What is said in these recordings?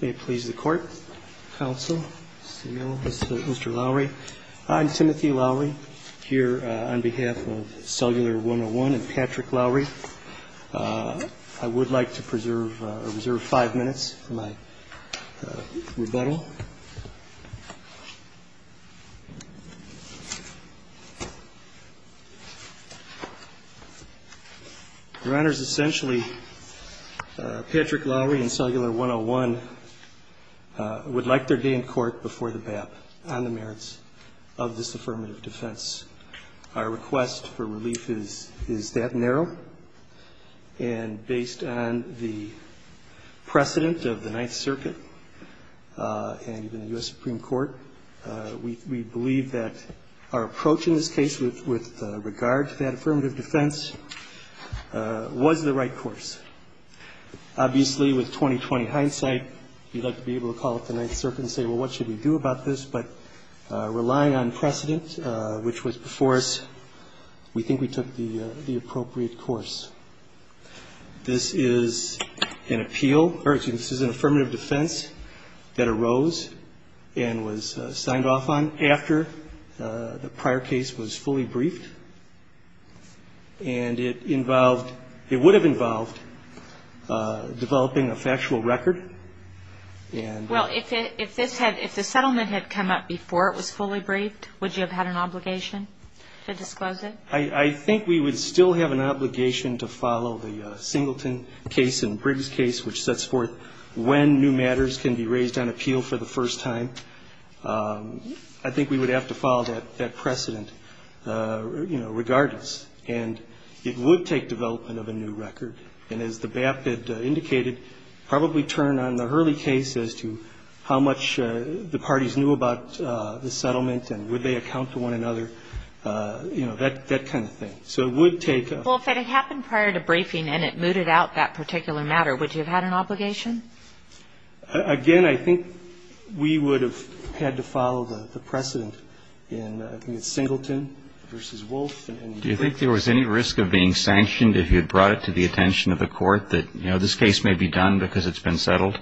May it please the court, counsel, Mr. Lowry. I'm Timothy Lowry, here on behalf of Cellular 101 and Patrick Lowry. I would like to preserve, reserve five minutes for my rebuttal. Your Honors, essentially, Patrick Lowry and Cellular 101 would like their day in court before the BAP on the merits of this affirmative defense. Our request for relief is that narrow, and based on the precedent of the Ninth Circuit and even the U.S. Supreme Court, we believe that our approach in this case with regard to that affirmative defense was the right course. Obviously, with 20-20 hindsight, we'd like to be able to call up the Ninth Circuit and say, well, what should we do about this? But relying on precedent, which was before us, we think we took the appropriate course. This is an appeal, or excuse me, this is an affirmative defense that arose and was signed off on after the prior case was fully briefed. And it involved, it would have involved developing a factual record and Well, if this had, if the settlement had come up before it was fully briefed, would you have had an obligation to disclose it? I think we would still have an obligation to follow the Singleton case and Briggs case, which sets forth when new matters can be raised on appeal for the first time. I think we would have to follow that precedent, you know, regardless. And it would take development of a new record. And as the BAP had indicated, probably turn on the Hurley case as to how much the parties knew about the settlement and would they account to one another. You know, that kind of thing. So it would take Well, if it had happened prior to briefing and it mooted out that particular matter, would you have had an obligation? Again, I think we would have had to follow the precedent in Singleton v. Wolfe. Do you think there was any risk of being sanctioned if you had brought it to the attention of the Court that, you know, this case may be done because it's been settled?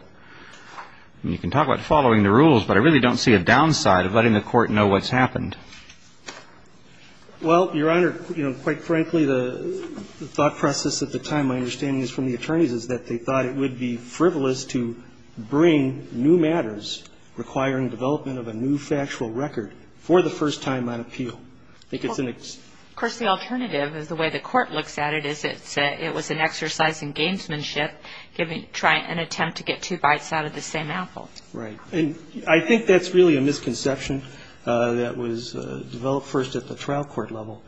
You can talk about following the rules, but I really don't see a downside of letting the Court know what's happened. Well, Your Honor, you know, quite frankly, the thought process at the time, my understanding is from the attorneys, is that they thought it would be frivolous to bring new matters requiring development of a new factual record for the first time on appeal. I think it's an Of course, the alternative is the way the Court looks at it is it was an exercise in gamesmanship, giving an attempt to get two bites out of the same apple. Right. And I think that's really a misconception that was developed first at the trial court level.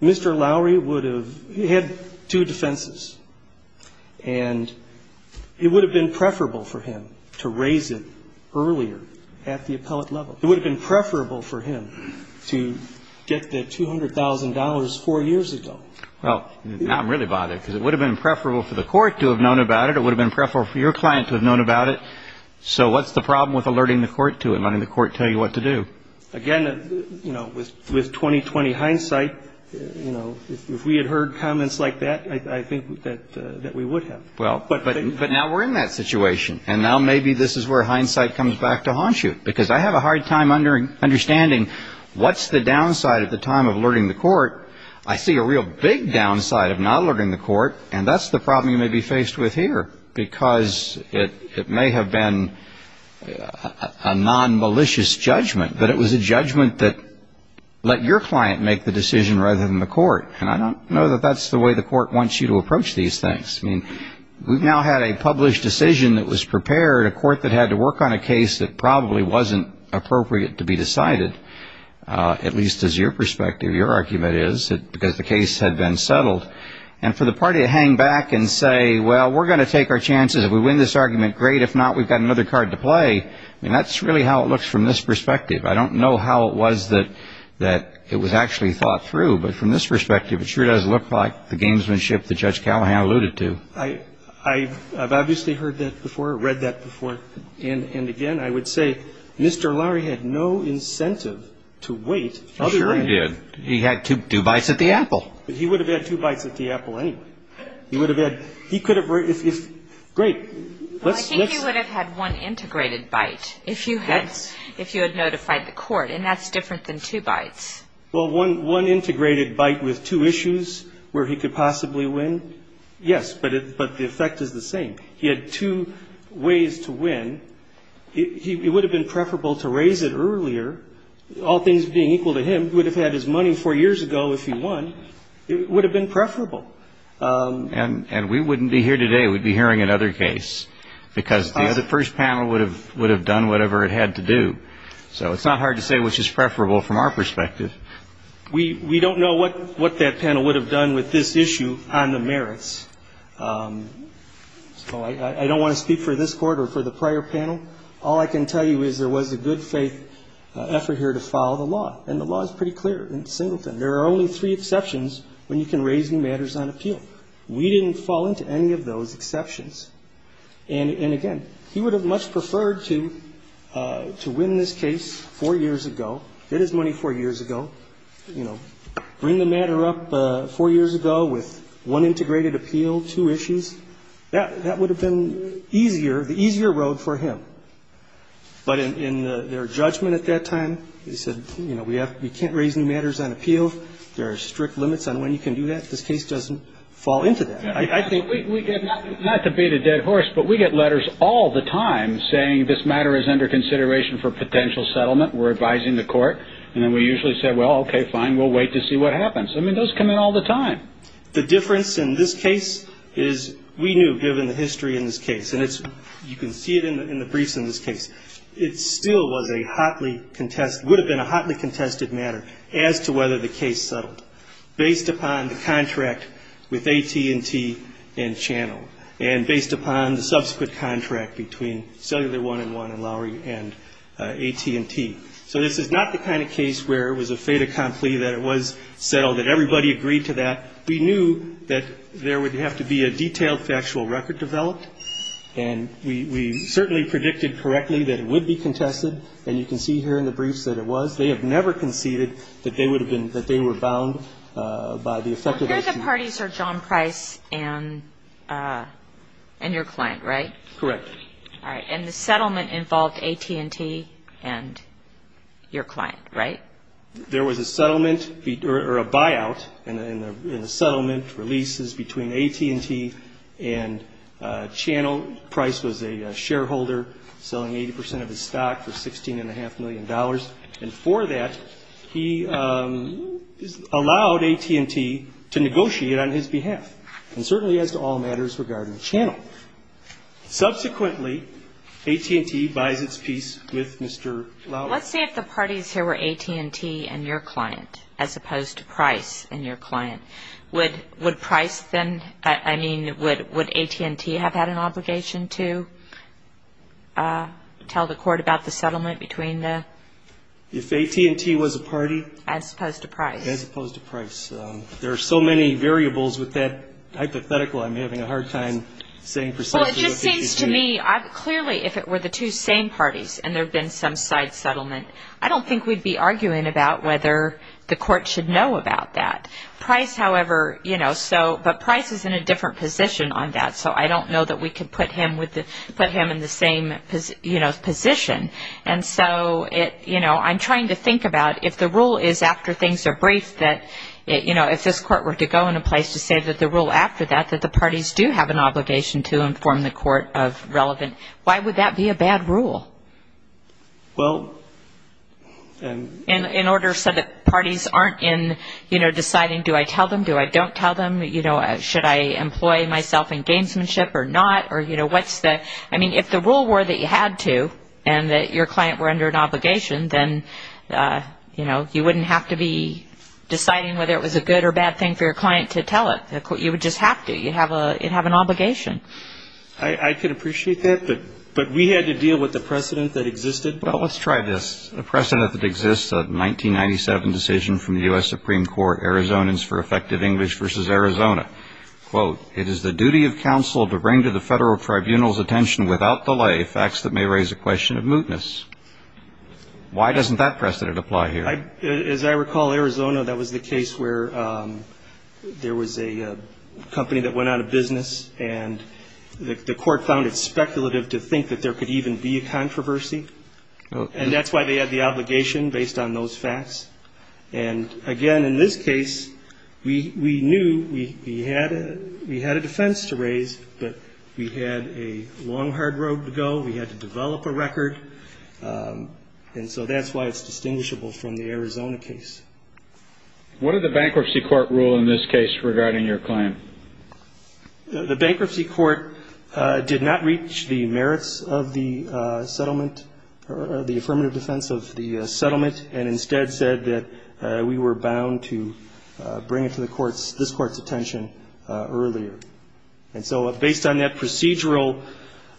Mr. Lowry would have had two defenses, and it would have been preferable for him to raise it earlier at the appellate level. It would have been preferable for him to get the $200,000 four years ago. Well, now I'm really bothered because it would have been preferable for the Court to have known about it. It would have been preferable for your client to have known about it. So what's the problem with alerting the Court to it, letting the Court tell you what to do? Again, you know, with 20-20 hindsight, you know, if we had heard comments like that, I think that we would have. Well, but now we're in that situation, and now maybe this is where hindsight comes back to haunt you because I have a hard time understanding what's the downside at the time of alerting the Court. I see a real big downside of not alerting the Court, and that's the problem you may be faced with here because it may have been a nonmalicious judgment, but it was a judgment that let your client make the decision rather than the Court. And I don't know that that's the way the Court wants you to approach these things. I mean, we've now had a published decision that was prepared, a Court that had to work on a case that probably wasn't appropriate to be decided, at least as your perspective, your argument is, because the case had been settled. And for the party to hang back and say, well, we're going to take our chances. If we win this argument, great. If not, we've got another card to play. I mean, that's really how it looks from this perspective. I don't know how it was that it was actually thought through, but from this perspective, it sure does look like the gamesmanship that Judge Callahan alluded to. I've obviously heard that before, read that before, and again, I would say Mr. Lowery had no incentive to wait. I'll be right back. He sure did. He had two bites at the apple. But he would have had two bites at the apple anyway. He would have had he could have, great. Well, I think he would have had one integrated bite if you had notified the Court, and that's different than two bites. Well, one integrated bite with two issues where he could possibly win, yes, but the effect is the same. He had two ways to win. It would have been preferable to raise it earlier, all things being equal to him. He would have had his money four years ago if he won. It would have been preferable. And we wouldn't be here today. We'd be hearing another case because the first panel would have done whatever it had to do. So it's not hard to say which is preferable from our perspective. We don't know what that panel would have done with this issue on the merits. So I don't want to speak for this Court or for the prior panel. All I can tell you is there was a good faith effort here to follow the law, and the law is pretty clear in Singleton. There are only three exceptions when you can raise new matters on appeal. We didn't fall into any of those exceptions. And, again, he would have much preferred to win this case four years ago, get his money four years ago, you know, bring the matter up four years ago with one integrated appeal, two issues. That would have been easier, the easier road for him. But in their judgment at that time, they said, you know, we can't raise new matters on appeal. There are strict limits on when you can do that. This case doesn't fall into that. I think we get not to beat a dead horse, but we get letters all the time saying this matter is under consideration for potential settlement. We're advising the Court. And then we usually say, well, okay, fine, we'll wait to see what happens. I mean, those come in all the time. The difference in this case is we knew, given the history in this case, and you can see it in the briefs in this case, it still was a hotly contested, would have been a hotly contested matter as to whether the case settled, based upon the contract with AT&T and Channel, and based upon the subsequent contract between Cellular 1 and 1 and Lowry and AT&T. So this is not the kind of case where it was a fait accompli that it was settled, that everybody agreed to that. We knew that there would have to be a detailed factual record developed, and we certainly predicted correctly that it would be contested. And you can see here in the briefs that it was. They have never conceded that they would have been, that they were bound by the effective action. Well, here the parties are John Price and your client, right? Correct. All right. And the settlement involved AT&T and your client, right? There was a settlement, or a buyout in the settlement, releases between AT&T and Channel. Price was a shareholder selling 80 percent of his stock for $16.5 million, and for that he allowed AT&T to negotiate on his behalf, and certainly as to all matters regarding Channel. Subsequently, AT&T buys its piece with Mr. Lowry. Let's say if the parties here were AT&T and your client, as opposed to Price and your client, would Price then, I mean, would AT&T have had an obligation to tell the court about the settlement between the? If AT&T was a party. As opposed to Price. As opposed to Price. There are so many variables with that hypothetical, I'm having a hard time saying precisely what AT&T. Well, it just seems to me, clearly if it were the two same parties and there had been some side settlement, I don't think we'd be arguing about whether the court should know about that. Price, however, you know, so, but Price is in a different position on that, so I don't know that we could put him in the same, you know, position. And so, you know, I'm trying to think about if the rule is after things are briefed that, you know, if this court were to go into place to say that the rule after that, that the parties do have an obligation to inform the court of relevant, why would that be a bad rule? Well, and. In order so that parties aren't in, you know, deciding do I tell them, do I don't tell them, you know, should I employ myself in gamesmanship or not, or, you know, what's the. I mean, if the rule were that you had to and that your client were under an obligation, then, you know, you wouldn't have to be deciding whether it was a good or bad thing for your client to tell it. You would just have to. You'd have an obligation. I could appreciate that, but we had to deal with the precedent that existed. Well, let's try this. A precedent that exists, a 1997 decision from the U.S. Supreme Court, Arizonans for Effective English v. Arizona. Quote, it is the duty of counsel to bring to the federal tribunal's attention without delay facts that may raise a question of mootness. Why doesn't that precedent apply here? As I recall, Arizona, that was the case where there was a company that went out of business, and the court found it speculative to think that there could even be a controversy. And that's why they had the obligation based on those facts. And, again, in this case, we knew we had a defense to raise, but we had a long, hard road to go. We had to develop a record. And so that's why it's distinguishable from the Arizona case. What did the bankruptcy court rule in this case regarding your claim? The bankruptcy court did not reach the merits of the settlement, or the affirmative defense of the settlement, and instead said that we were bound to bring it to this court's attention earlier. And so based on that procedural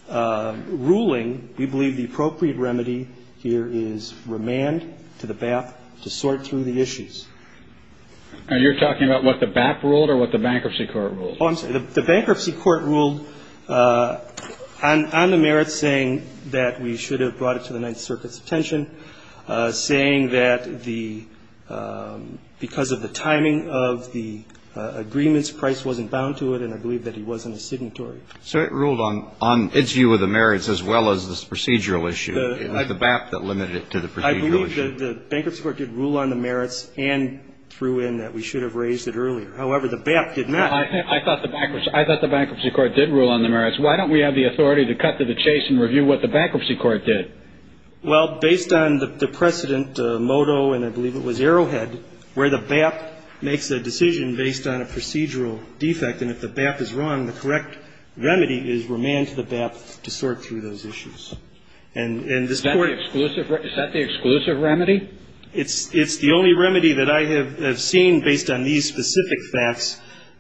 ruling, we believe the appropriate remedy here is remand to the BAP to sort through the issues. And you're talking about what the BAP ruled or what the bankruptcy court ruled? Oh, I'm sorry. The bankruptcy court ruled on the merits, saying that we should have brought it to the Ninth Circuit's attention, saying that because of the timing of the agreements, Price wasn't bound to it, and I believe that he wasn't a signatory. So it ruled on its view of the merits as well as this procedural issue, the BAP that limited it to the procedural issue. I believe the bankruptcy court did rule on the merits and threw in that we should have raised it earlier. However, the BAP did not. I thought the bankruptcy court did rule on the merits. Why don't we have the authority to cut to the chase and review what the bankruptcy court did? Well, based on the precedent, Modo and I believe it was Arrowhead, where the BAP makes a decision based on a procedural defect, and if the BAP is wrong, the correct remedy is remand to the BAP to sort through those issues. Is that the exclusive remedy? It's the only remedy that I have seen based on these specific facts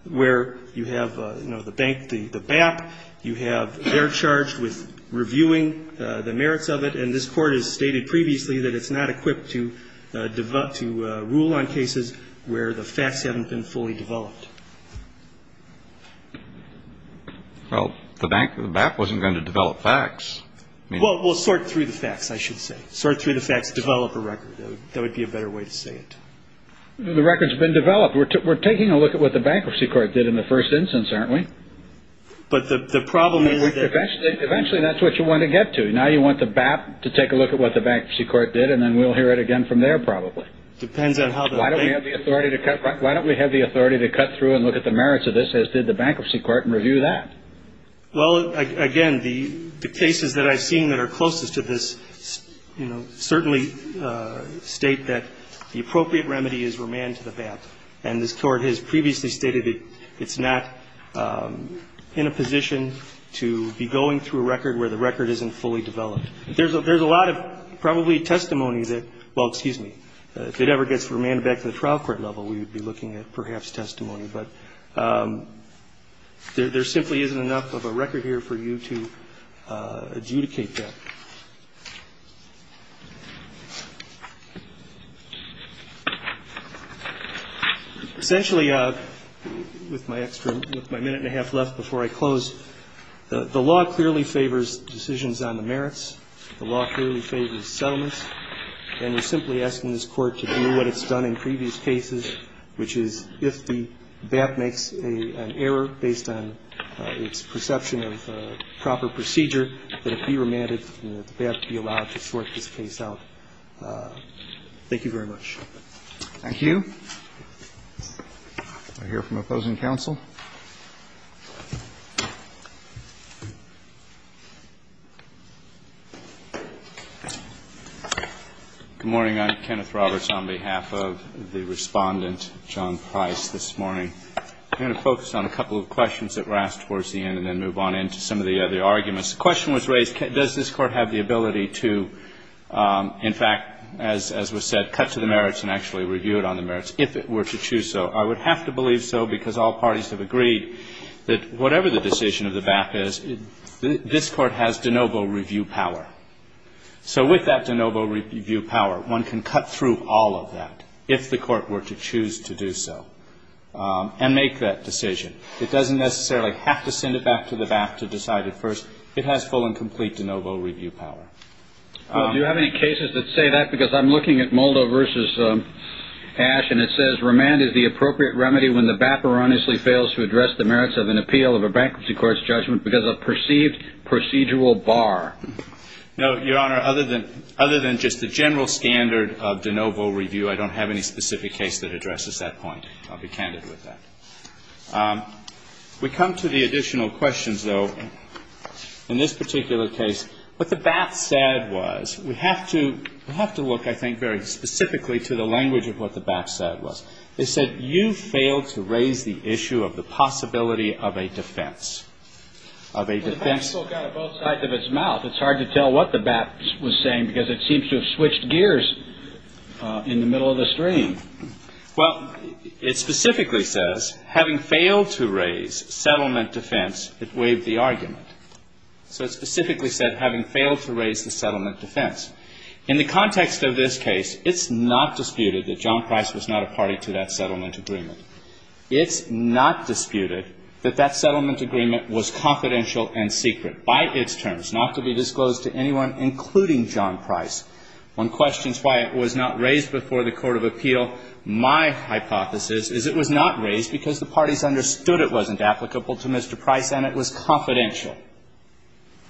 where you have, you know, the bank, the BAP, you have they're charged with reviewing the merits of it, and this Court has stated previously that it's not equipped to rule on cases where the facts haven't been fully developed. Well, the bank, the BAP wasn't going to develop facts. Well, we'll sort through the facts, I should say. Sort through the facts, develop a record. That would be a better way to say it. The record's been developed. We're taking a look at what the bankruptcy court did in the first instance, aren't we? But the problem is that... Eventually, that's what you want to get to. Now you want the BAP to take a look at what the bankruptcy court did, and then we'll hear it again from there probably. Depends on how the bank... Why don't we have the authority to cut through and look at the merits of this, as did the bankruptcy court, and review that? Well, again, the cases that I've seen that are closest to this, you know, certainly state that the appropriate remedy is remand to the BAP. And this Court has previously stated it's not in a position to be going through a record where the record isn't fully developed. There's a lot of probably testimony that, well, excuse me, if it ever gets remanded back to the trial court level, we would be looking at perhaps testimony. But there simply isn't enough of a record here for you to adjudicate that. Essentially, with my minute and a half left before I close, the law clearly favors decisions on the merits. The law clearly favors settlements. And we're simply asking this Court to do what it's done in previous cases, which is if the BAP makes an error based on its perception of proper procedure, that it be remanded and that the BAP be allowed to sort this case out. Thank you very much. Thank you. I hear from opposing counsel. Good morning. I'm Kenneth Roberts on behalf of the Respondent, John Price, this morning. I'm going to focus on a couple of questions that were asked towards the end and then the question was raised, does this Court have the ability to, in fact, as was said, cut to the merits and actually review it on the merits if it were to choose so? I would have to believe so because all parties have agreed that whatever the decision of the BAP is, this Court has de novo review power. So with that de novo review power, one can cut through all of that if the Court were to choose to do so and make that decision. It doesn't necessarily have to send it back to the BAP to decide it first. It has full and complete de novo review power. Do you have any cases that say that? Because I'm looking at Moldo v. Ash and it says, remand is the appropriate remedy when the BAP erroneously fails to address the merits of an appeal of a bankruptcy court's judgment because of perceived procedural bar. No, Your Honor, other than just the general standard of de novo review, I don't have any specific case that addresses that point. I'll be candid with that. We come to the additional questions, though. In this particular case, what the BAP said was, we have to look, I think, very specifically to the language of what the BAP said was. They said you failed to raise the issue of the possibility of a defense, of a defense. Well, the BAP still got it both sides of its mouth. It's hard to tell what the BAP was saying because it seems to have switched gears in the middle of the stream. Well, it specifically says, having failed to raise settlement defense, it waived the argument. So it specifically said, having failed to raise the settlement defense. In the context of this case, it's not disputed that John Price was not a party to that settlement agreement. It's not disputed that that settlement agreement was confidential and secret by its terms, not to be disclosed to anyone, including John Price. One questions why it was not raised before the court of appeal. My hypothesis is it was not raised because the parties understood it wasn't applicable to Mr. Price and it was confidential.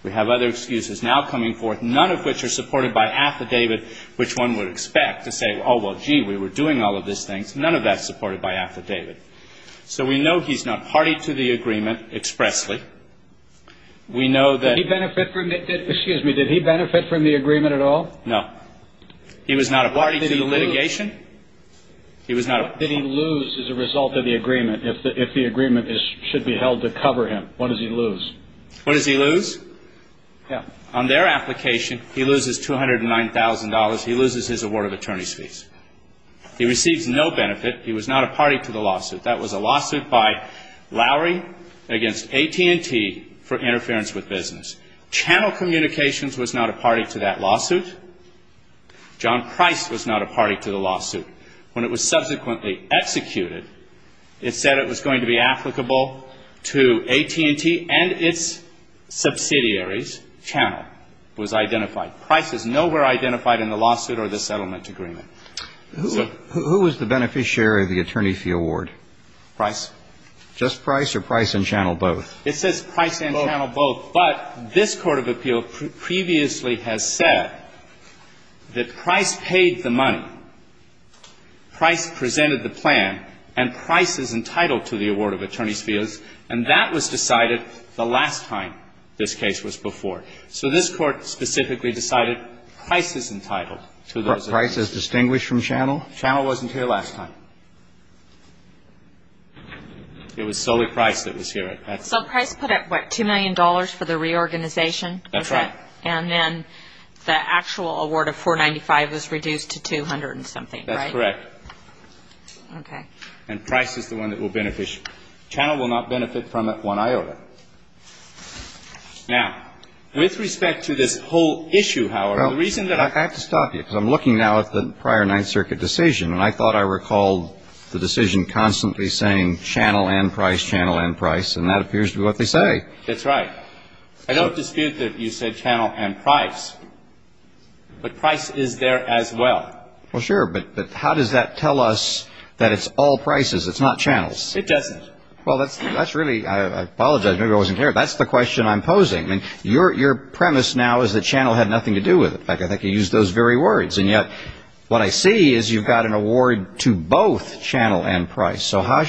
We have other excuses now coming forth, none of which are supported by affidavit, which one would expect to say, oh, well, gee, we were doing all of these things. None of that's supported by affidavit. So we know he's not party to the agreement expressly. We know that he benefited from it. No. He was not a party to the litigation. What did he lose as a result of the agreement if the agreement should be held to cover him? What does he lose? What does he lose? On their application, he loses $209,000. He loses his award of attorney's fees. He receives no benefit. He was not a party to the lawsuit. That was a lawsuit by Lowry against AT&T for interference with business. Channel Communications was not a party to that lawsuit. John Price was not a party to the lawsuit. When it was subsequently executed, it said it was going to be applicable to AT&T and its subsidiaries. Channel was identified. Price is nowhere identified in the lawsuit or the settlement agreement. Who was the beneficiary of the attorney fee award? Price. Just Price or Price and Channel both? It says Price and Channel both. But this court of appeal previously has said that Price paid the money, Price presented the plan, and Price is entitled to the award of attorney's fees. And that was decided the last time this case was before. So this Court specifically decided Price is entitled to those. Price is distinguished from Channel? Channel wasn't here last time. It was solely Price that was here at that time. So Price put out, what, $2 million for the reorganization? That's right. And then the actual award of $495 was reduced to $200 and something, right? That's correct. Okay. And Price is the one that will benefit. Channel will not benefit from it one iota. Now, with respect to this whole issue, however, the reason that I have to stop you, because I'm looking now at the prior Ninth Circuit decision, and I thought I recalled the decision constantly saying Channel and Price, Channel and Price, and that appears to be what they say. That's right. I don't dispute that you said Channel and Price, but Price is there as well. Well, sure, but how does that tell us that it's all Prices, it's not Channels? It doesn't. Well, that's really, I apologize, maybe I wasn't clear. That's the question I'm posing. I mean, your premise now is that Channel had nothing to do with it. In fact, I think you used those very words. And yet what I see is you've got an award to both Channel and Price. So how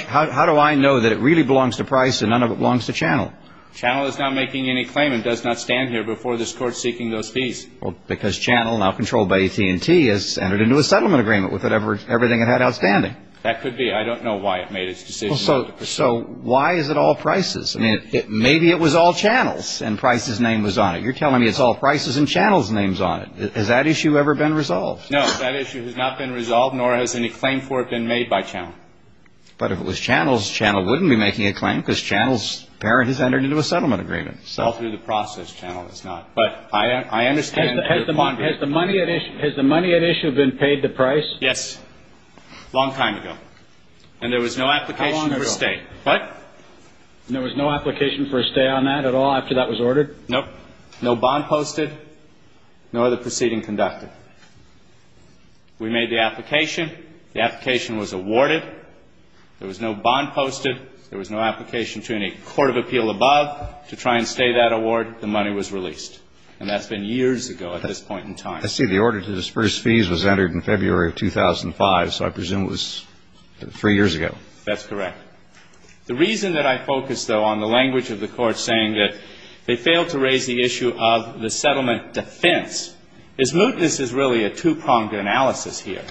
do I know that it really belongs to Price and none of it belongs to Channel? Channel is not making any claim and does not stand here before this Court seeking those fees. Well, because Channel, now controlled by AT&T, has entered into a settlement agreement with everything it had outstanding. That could be. I don't know why it made its decision not to pursue. So why is it all Prices? I mean, maybe it was all Channels and Price's name was on it. You're telling me it's all Prices and Channel's names on it. Has that issue ever been resolved? No, that issue has not been resolved, nor has any claim for it been made by Channel. But if it was Channels, Channel wouldn't be making a claim because Channel's parent has entered into a settlement agreement. It's all through the process. Channel has not. But I understand. Has the money at issue been paid to Price? Yes. A long time ago. And there was no application for a stay. What? And there was no application for a stay on that at all after that was ordered? Nope. No bond posted, nor the proceeding conducted. We made the application. The application was awarded. There was no bond posted. There was no application to any court of appeal above to try and stay that award. The money was released. And that's been years ago at this point in time. I see the order to disperse fees was entered in February of 2005, so I presume it was three years ago. That's correct. The reason that I focus, though, on the language of the court saying that they failed to raise the issue of the settlement defense is mootness is really a two-pronged analysis here.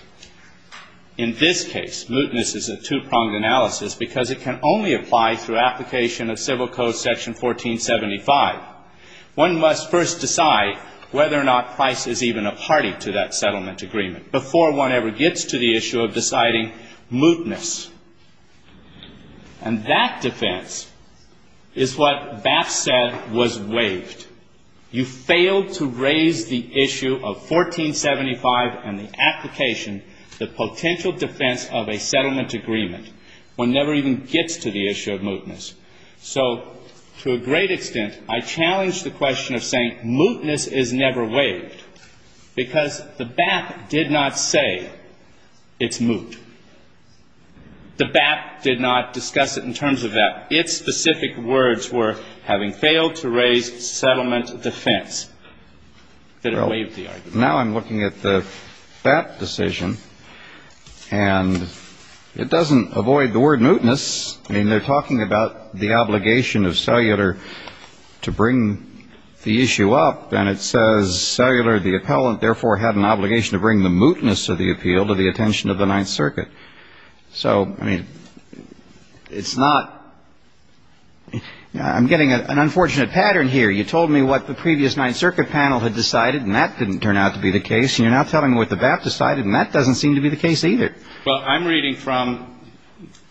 In this case, mootness is a two-pronged analysis because it can only apply through application of Civil Code Section 1475. One must first decide whether or not Price is even a party to that settlement agreement before one ever gets to the issue of deciding mootness. And that defense is what Baff said was waived. You failed to raise the issue of 1475 and the application, the potential defense of a settlement agreement. One never even gets to the issue of mootness. So to a great extent, I challenge the question of saying mootness is never waived because the Baff did not say it's moot. The Baff did not discuss it in terms of that. Its specific words were, having failed to raise settlement defense, that it waived the argument. Now I'm looking at the Baff decision, and it doesn't avoid the word mootness. I mean, they're talking about the obligation of cellular to bring the issue up, and it says cellular, the appellant, therefore, had an obligation to bring the mootness of the appeal to the attention of the Ninth Circuit. So, I mean, it's not ñ I'm getting an unfortunate pattern here. You told me what the previous Ninth Circuit panel had decided, and that didn't turn out to be the case, and you're now telling me what the Baff decided, and that doesn't seem to be the case either. Well, I'm reading from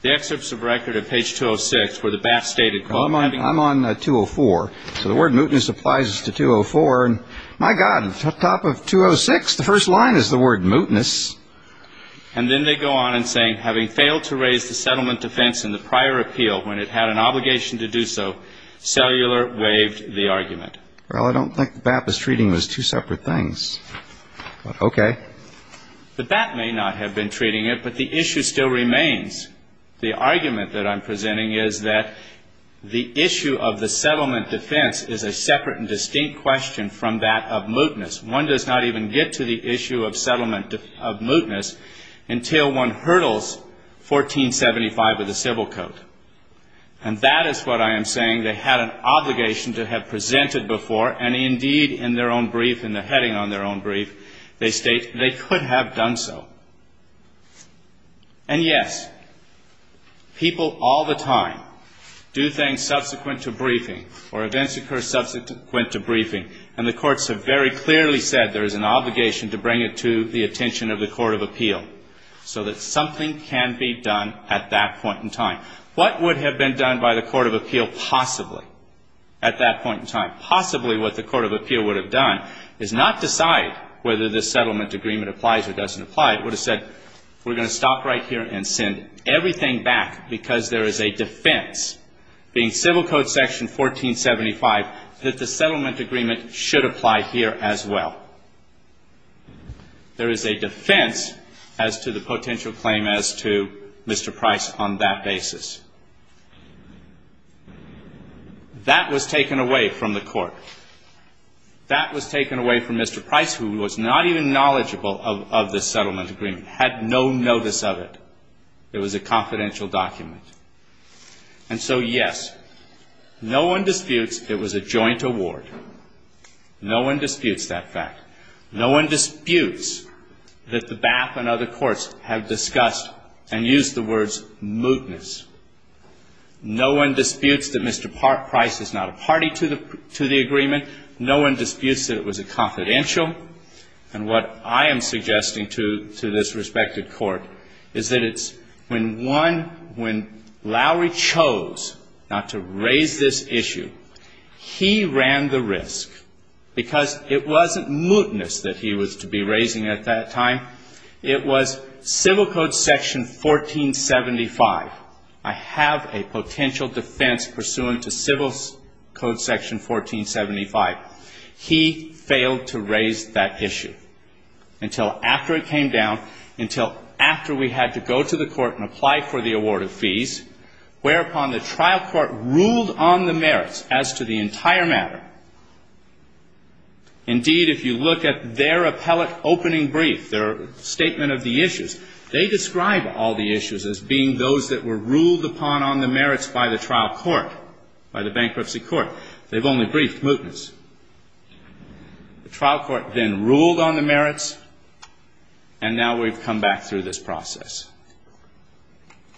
the excerpts of record of page 206 where the Baff stated, Well, I'm on 204. So the word mootness applies to 204, and my God, top of 206, the first line is the word mootness. And then they go on in saying, having failed to raise the settlement defense in the prior appeal when it had an obligation to do so, cellular waived the argument. Well, I don't think the Baff is treating those two separate things. Okay. The Baff may not have been treating it, but the issue still remains. The argument that I'm presenting is that the issue of the settlement defense is a separate and distinct question from that of mootness. One does not even get to the issue of settlement of mootness until one hurdles 1475 of the Civil Code. And that is what I am saying. They had an obligation to have presented before, and indeed, in their own brief, in the heading on their own brief, they state they could have done so. And yes, people all the time do things subsequent to briefing, or events occur subsequent to briefing, and the courts have very clearly said there is an obligation to bring it to the attention of the Court of Appeal so that something can be done at that point in time. What would have been done by the Court of Appeal possibly at that point in time? Possibly what the Court of Appeal would have done is not decide whether this settlement agreement applies or doesn't apply. It would have said, we're going to stop right here and send everything back because there is a defense, being Civil Code section 1475, that the settlement agreement should apply here as well. There is a defense as to the potential claim as to Mr. Price on that basis. That was taken away from the Court. That was taken away from Mr. Price, who was not even knowledgeable of this settlement agreement, had no notice of it. It was a confidential document. And so, yes, no one disputes it was a joint award. No one disputes that fact. No one disputes that the BAP and other courts have discussed and used the words mootness. No one disputes that Mr. Price is not a party to the agreement. No one disputes that it was a confidential. And what I am suggesting to this respected Court is that it's when one, when Lowry chose not to raise this issue, he ran the risk because it wasn't mootness that he was to be raising at that time. It was Civil Code section 1475. I have a potential defense pursuant to Civil Code section 1475. He failed to raise that issue until after it came down, until after we had to go to the Court and apply for the award of fees, whereupon the trial court ruled on the merits as to the entire matter. Indeed, if you look at their appellate opening brief, their statement of the issues, they describe all the issues as being those that were ruled upon on the merits by the trial court, by the bankruptcy court. They've only briefed mootness. The trial court then ruled on the merits, and now we've come back through this process.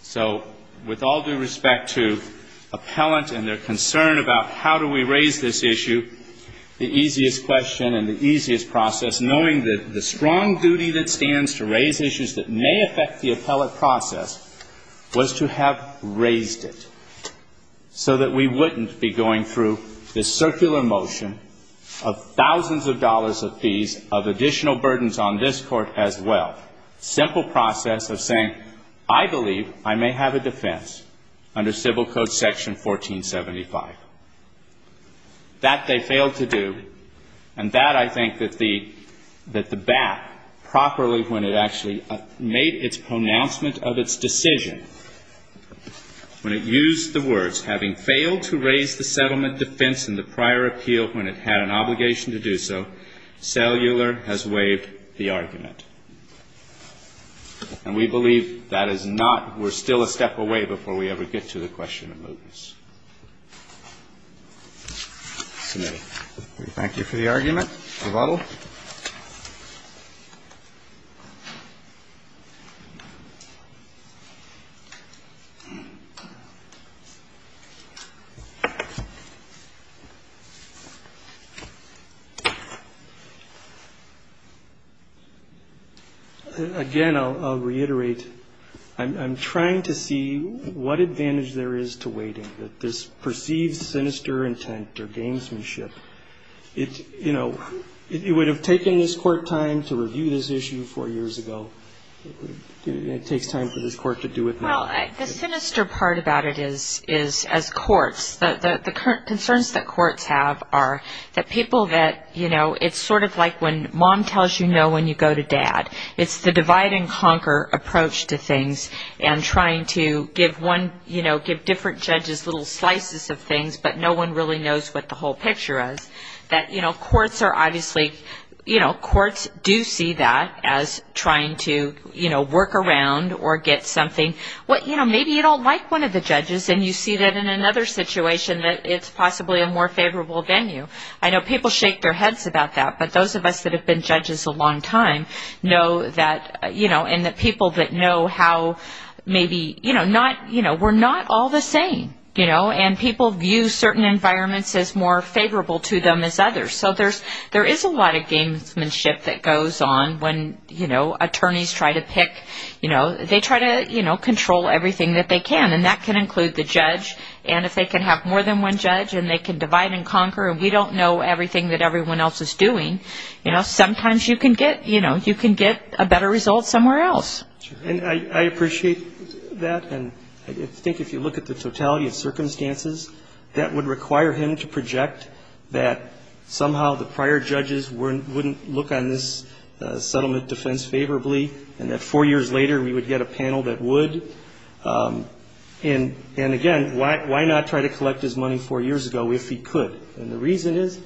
So with all due respect to appellant and their concern about how do we raise this issue, the easiest question and the easiest process, knowing that the strong duty that stands to raise issues that may affect the appellate process, was to have raised it so that we wouldn't be going through this circular motion of thousands of dollars of fees, of additional burdens on this Court as well. Simple process of saying, I believe I may have a defense under Civil Code Section 1475. That they failed to do, and that I think that the BAP, properly when it actually made its pronouncement of its decision, when it used the words, having failed to raise the settlement defense in the prior appeal when it had an obligation to do so, cellular has waived the argument. And we believe that is not, we're still a step away before we ever get to the question of mootness. Submitted. Thank you for the argument. Bravo. Again, I'll reiterate, I'm trying to see what advantage there is to waiting, that this perceived sinister intent or gamesmanship, it would have taken this Court time to review this issue four years ago. It takes time for this Court to do it now. Well, the sinister part about it is, as courts, the concerns that courts have are that people that, it's sort of like when mom tells you no when you go to dad. It's the divide and conquer approach to things, and trying to give one, you know, give different judges little slices of things, but no one really knows what the whole picture is. That, you know, courts are obviously, you know, courts do see that as trying to, you know, work around or get something. Well, you know, maybe you don't like one of the judges, and you see that in another situation that it's possibly a more favorable venue. I know people shake their heads about that, but those of us that have been judges a long time know that, you know, and that people that know how maybe, you know, not, you know, we're not all the same, you know, and people view certain environments as more favorable to them as others. So there is a lot of gamesmanship that goes on when, you know, attorneys try to pick, you know, they try to, you know, control everything that they can, and that can include the judge. And if they can have more than one judge, and they can divide and conquer, and we don't know everything that everyone else is doing, you know, sometimes you can get, you know, you can get a better result somewhere else. And I appreciate that. And I think if you look at the totality of circumstances, that would require him to project that somehow the prior judges wouldn't look on this settlement defense favorably, and that four years later we would get a panel that would. And, again, why not try to collect his money four years ago if he could? And the reason is,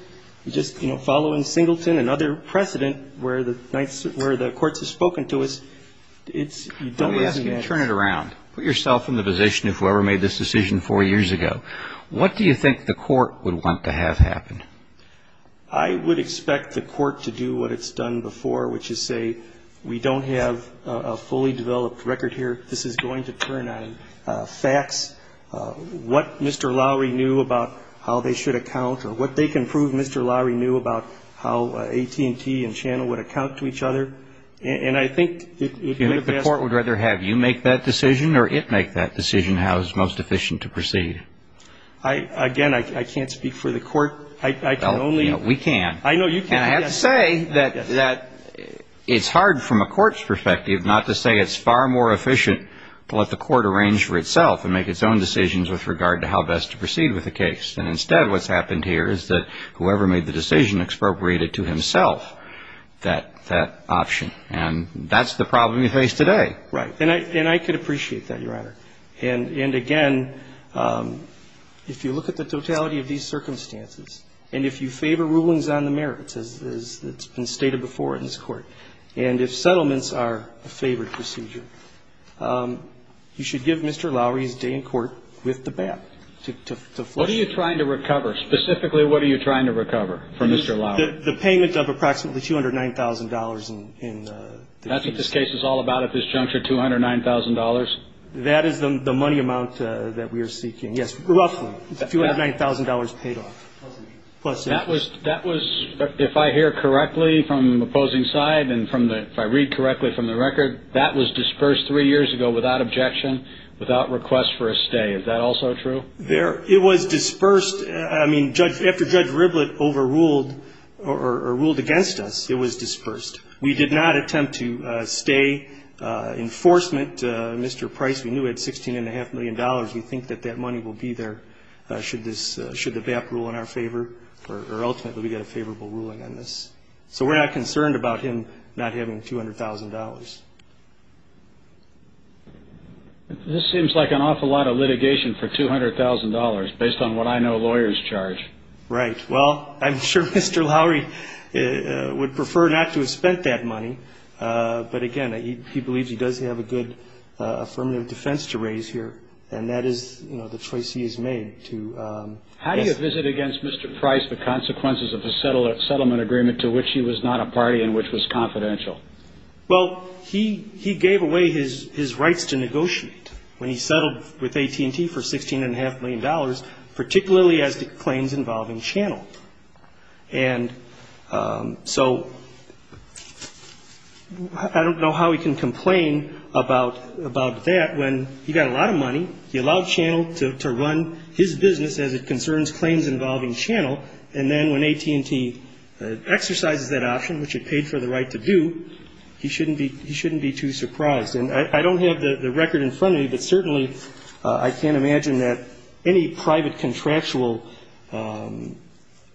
you just, you know, following Singleton and other precedent where the courts have spoken to us, it's, you don't want to imagine. Let me ask you to turn it around. Put yourself in the position of whoever made this decision four years ago. What do you think the court would want to have happen? I would expect the court to do what it's done before, which is say, we don't have a fully developed record here. This is going to turn on facts. What Mr. Lowery knew about how they should account, or what they can prove Mr. Lowery knew about how AT&T and Channel would account to each other. And I think it would make the best. The court would rather have you make that decision or it make that decision, how it's most efficient to proceed. Again, I can't speak for the court. I can only. We can. I know you can. And I have to say that it's hard from a court's perspective not to say it's far more efficient to let the court arrange for itself and make its own decisions with regard to how best to proceed with the case. And instead what's happened here is that whoever made the decision expropriated to himself that option. And that's the problem we face today. Right. And I can appreciate that, Your Honor. And again, if you look at the totality of these circumstances, and if you favor rulings on the merits as it's been stated before in this Court, and if settlements are a favored procedure, you should give Mr. Lowery's day in court with the bat to flesh it out. What are you trying to recover? Specifically, what are you trying to recover for Mr. Lowery? The payment of approximately $209,000. That's what this case is all about at this juncture, $209,000? That is the money amount that we are seeking. Yes, roughly. $209,000 paid off. That was, if I hear correctly from opposing side and if I read correctly from the record, that was dispersed three years ago without objection, without request for a stay. Is that also true? It was dispersed. I mean, after Judge Riblett overruled or ruled against us, it was dispersed. We did not attempt to stay. Enforcement, Mr. Price, we knew had $16.5 million. We think that that money will be there should the BAP rule in our favor or ultimately we get a favorable ruling on this. So we're not concerned about him not having $200,000. This seems like an awful lot of litigation for $200,000 based on what I know lawyers charge. Right. Well, I'm sure Mr. Lowery would prefer not to have spent that money, but again, he believes he does have a good affirmative defense to raise here, and that is, you know, the choice he has made to. How do you visit against Mr. Price the consequences of the settlement agreement to which he was not a party and which was confidential? Well, he gave away his rights to negotiate when he settled with AT&T for $16.5 million, particularly as to claims involving Channel. And so I don't know how he can complain about that when he got a lot of money, he allowed Channel to run his business as it concerns claims involving Channel, and then when AT&T exercises that option, which it paid for the right to do, he shouldn't be too surprised. And I don't have the record in front of me, but certainly I can't imagine that any private contractual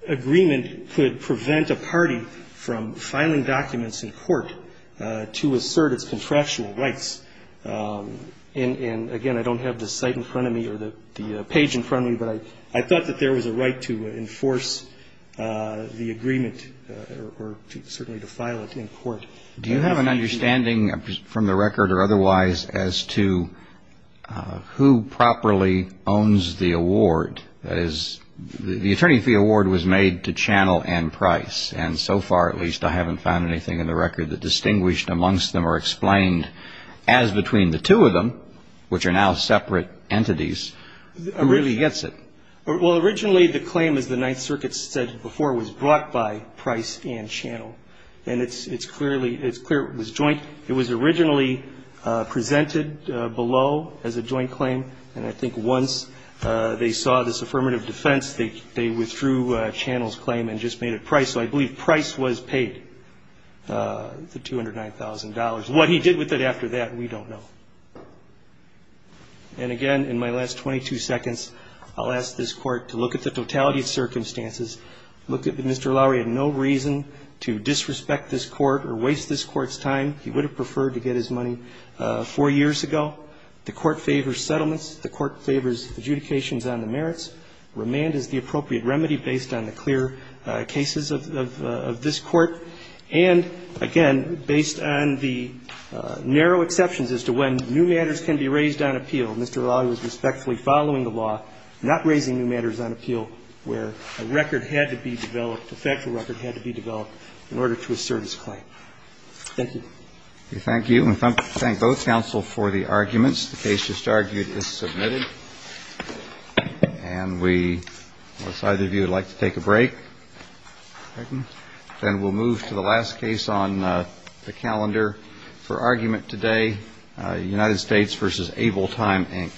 agreement could prevent a party from filing documents in court to assert its contractual rights. And again, I don't have the site in front of me or the page in front of me, but I thought that there was a right to enforce the agreement or certainly to file it in court. Do you have an understanding from the record or otherwise as to who properly owns the award? I don't. That is, the Attorney Fee Award was made to Channel and Price. And so far, at least, I haven't found anything in the record that distinguished amongst them or explained as between the two of them, which are now separate entities, really gets it. Well, originally the claim, as the Ninth Circuit said before, was brought by Price and Channel. And it's clearly, it's clear it was joint. It was originally presented below as a joint claim. And I think once they saw this affirmative defense, they withdrew Channel's claim and just made it Price. So I believe Price was paid the $209,000. What he did with it after that, we don't know. And again, in my last 22 seconds, I'll ask this Court to look at the totality of circumstances, look at that Mr. Lowery had no reason to disrespect this Court or waste this Court's time. He would have preferred to get his money four years ago. The Court favors settlements. The Court favors adjudications on the merits. Remand is the appropriate remedy based on the clear cases of this Court. And again, based on the narrow exceptions as to when new matters can be raised on appeal, Mr. Lowery was respectfully following the law, not raising new matters on appeal where a record had to be developed, a factual record had to be developed in order to assert his claim. Thank you. We thank you. We thank both counsel for the arguments. The case just argued is submitted. And we decide if you would like to take a break. Then we'll move to the last case on the calendar for argument today, United States v. Able Time, Inc.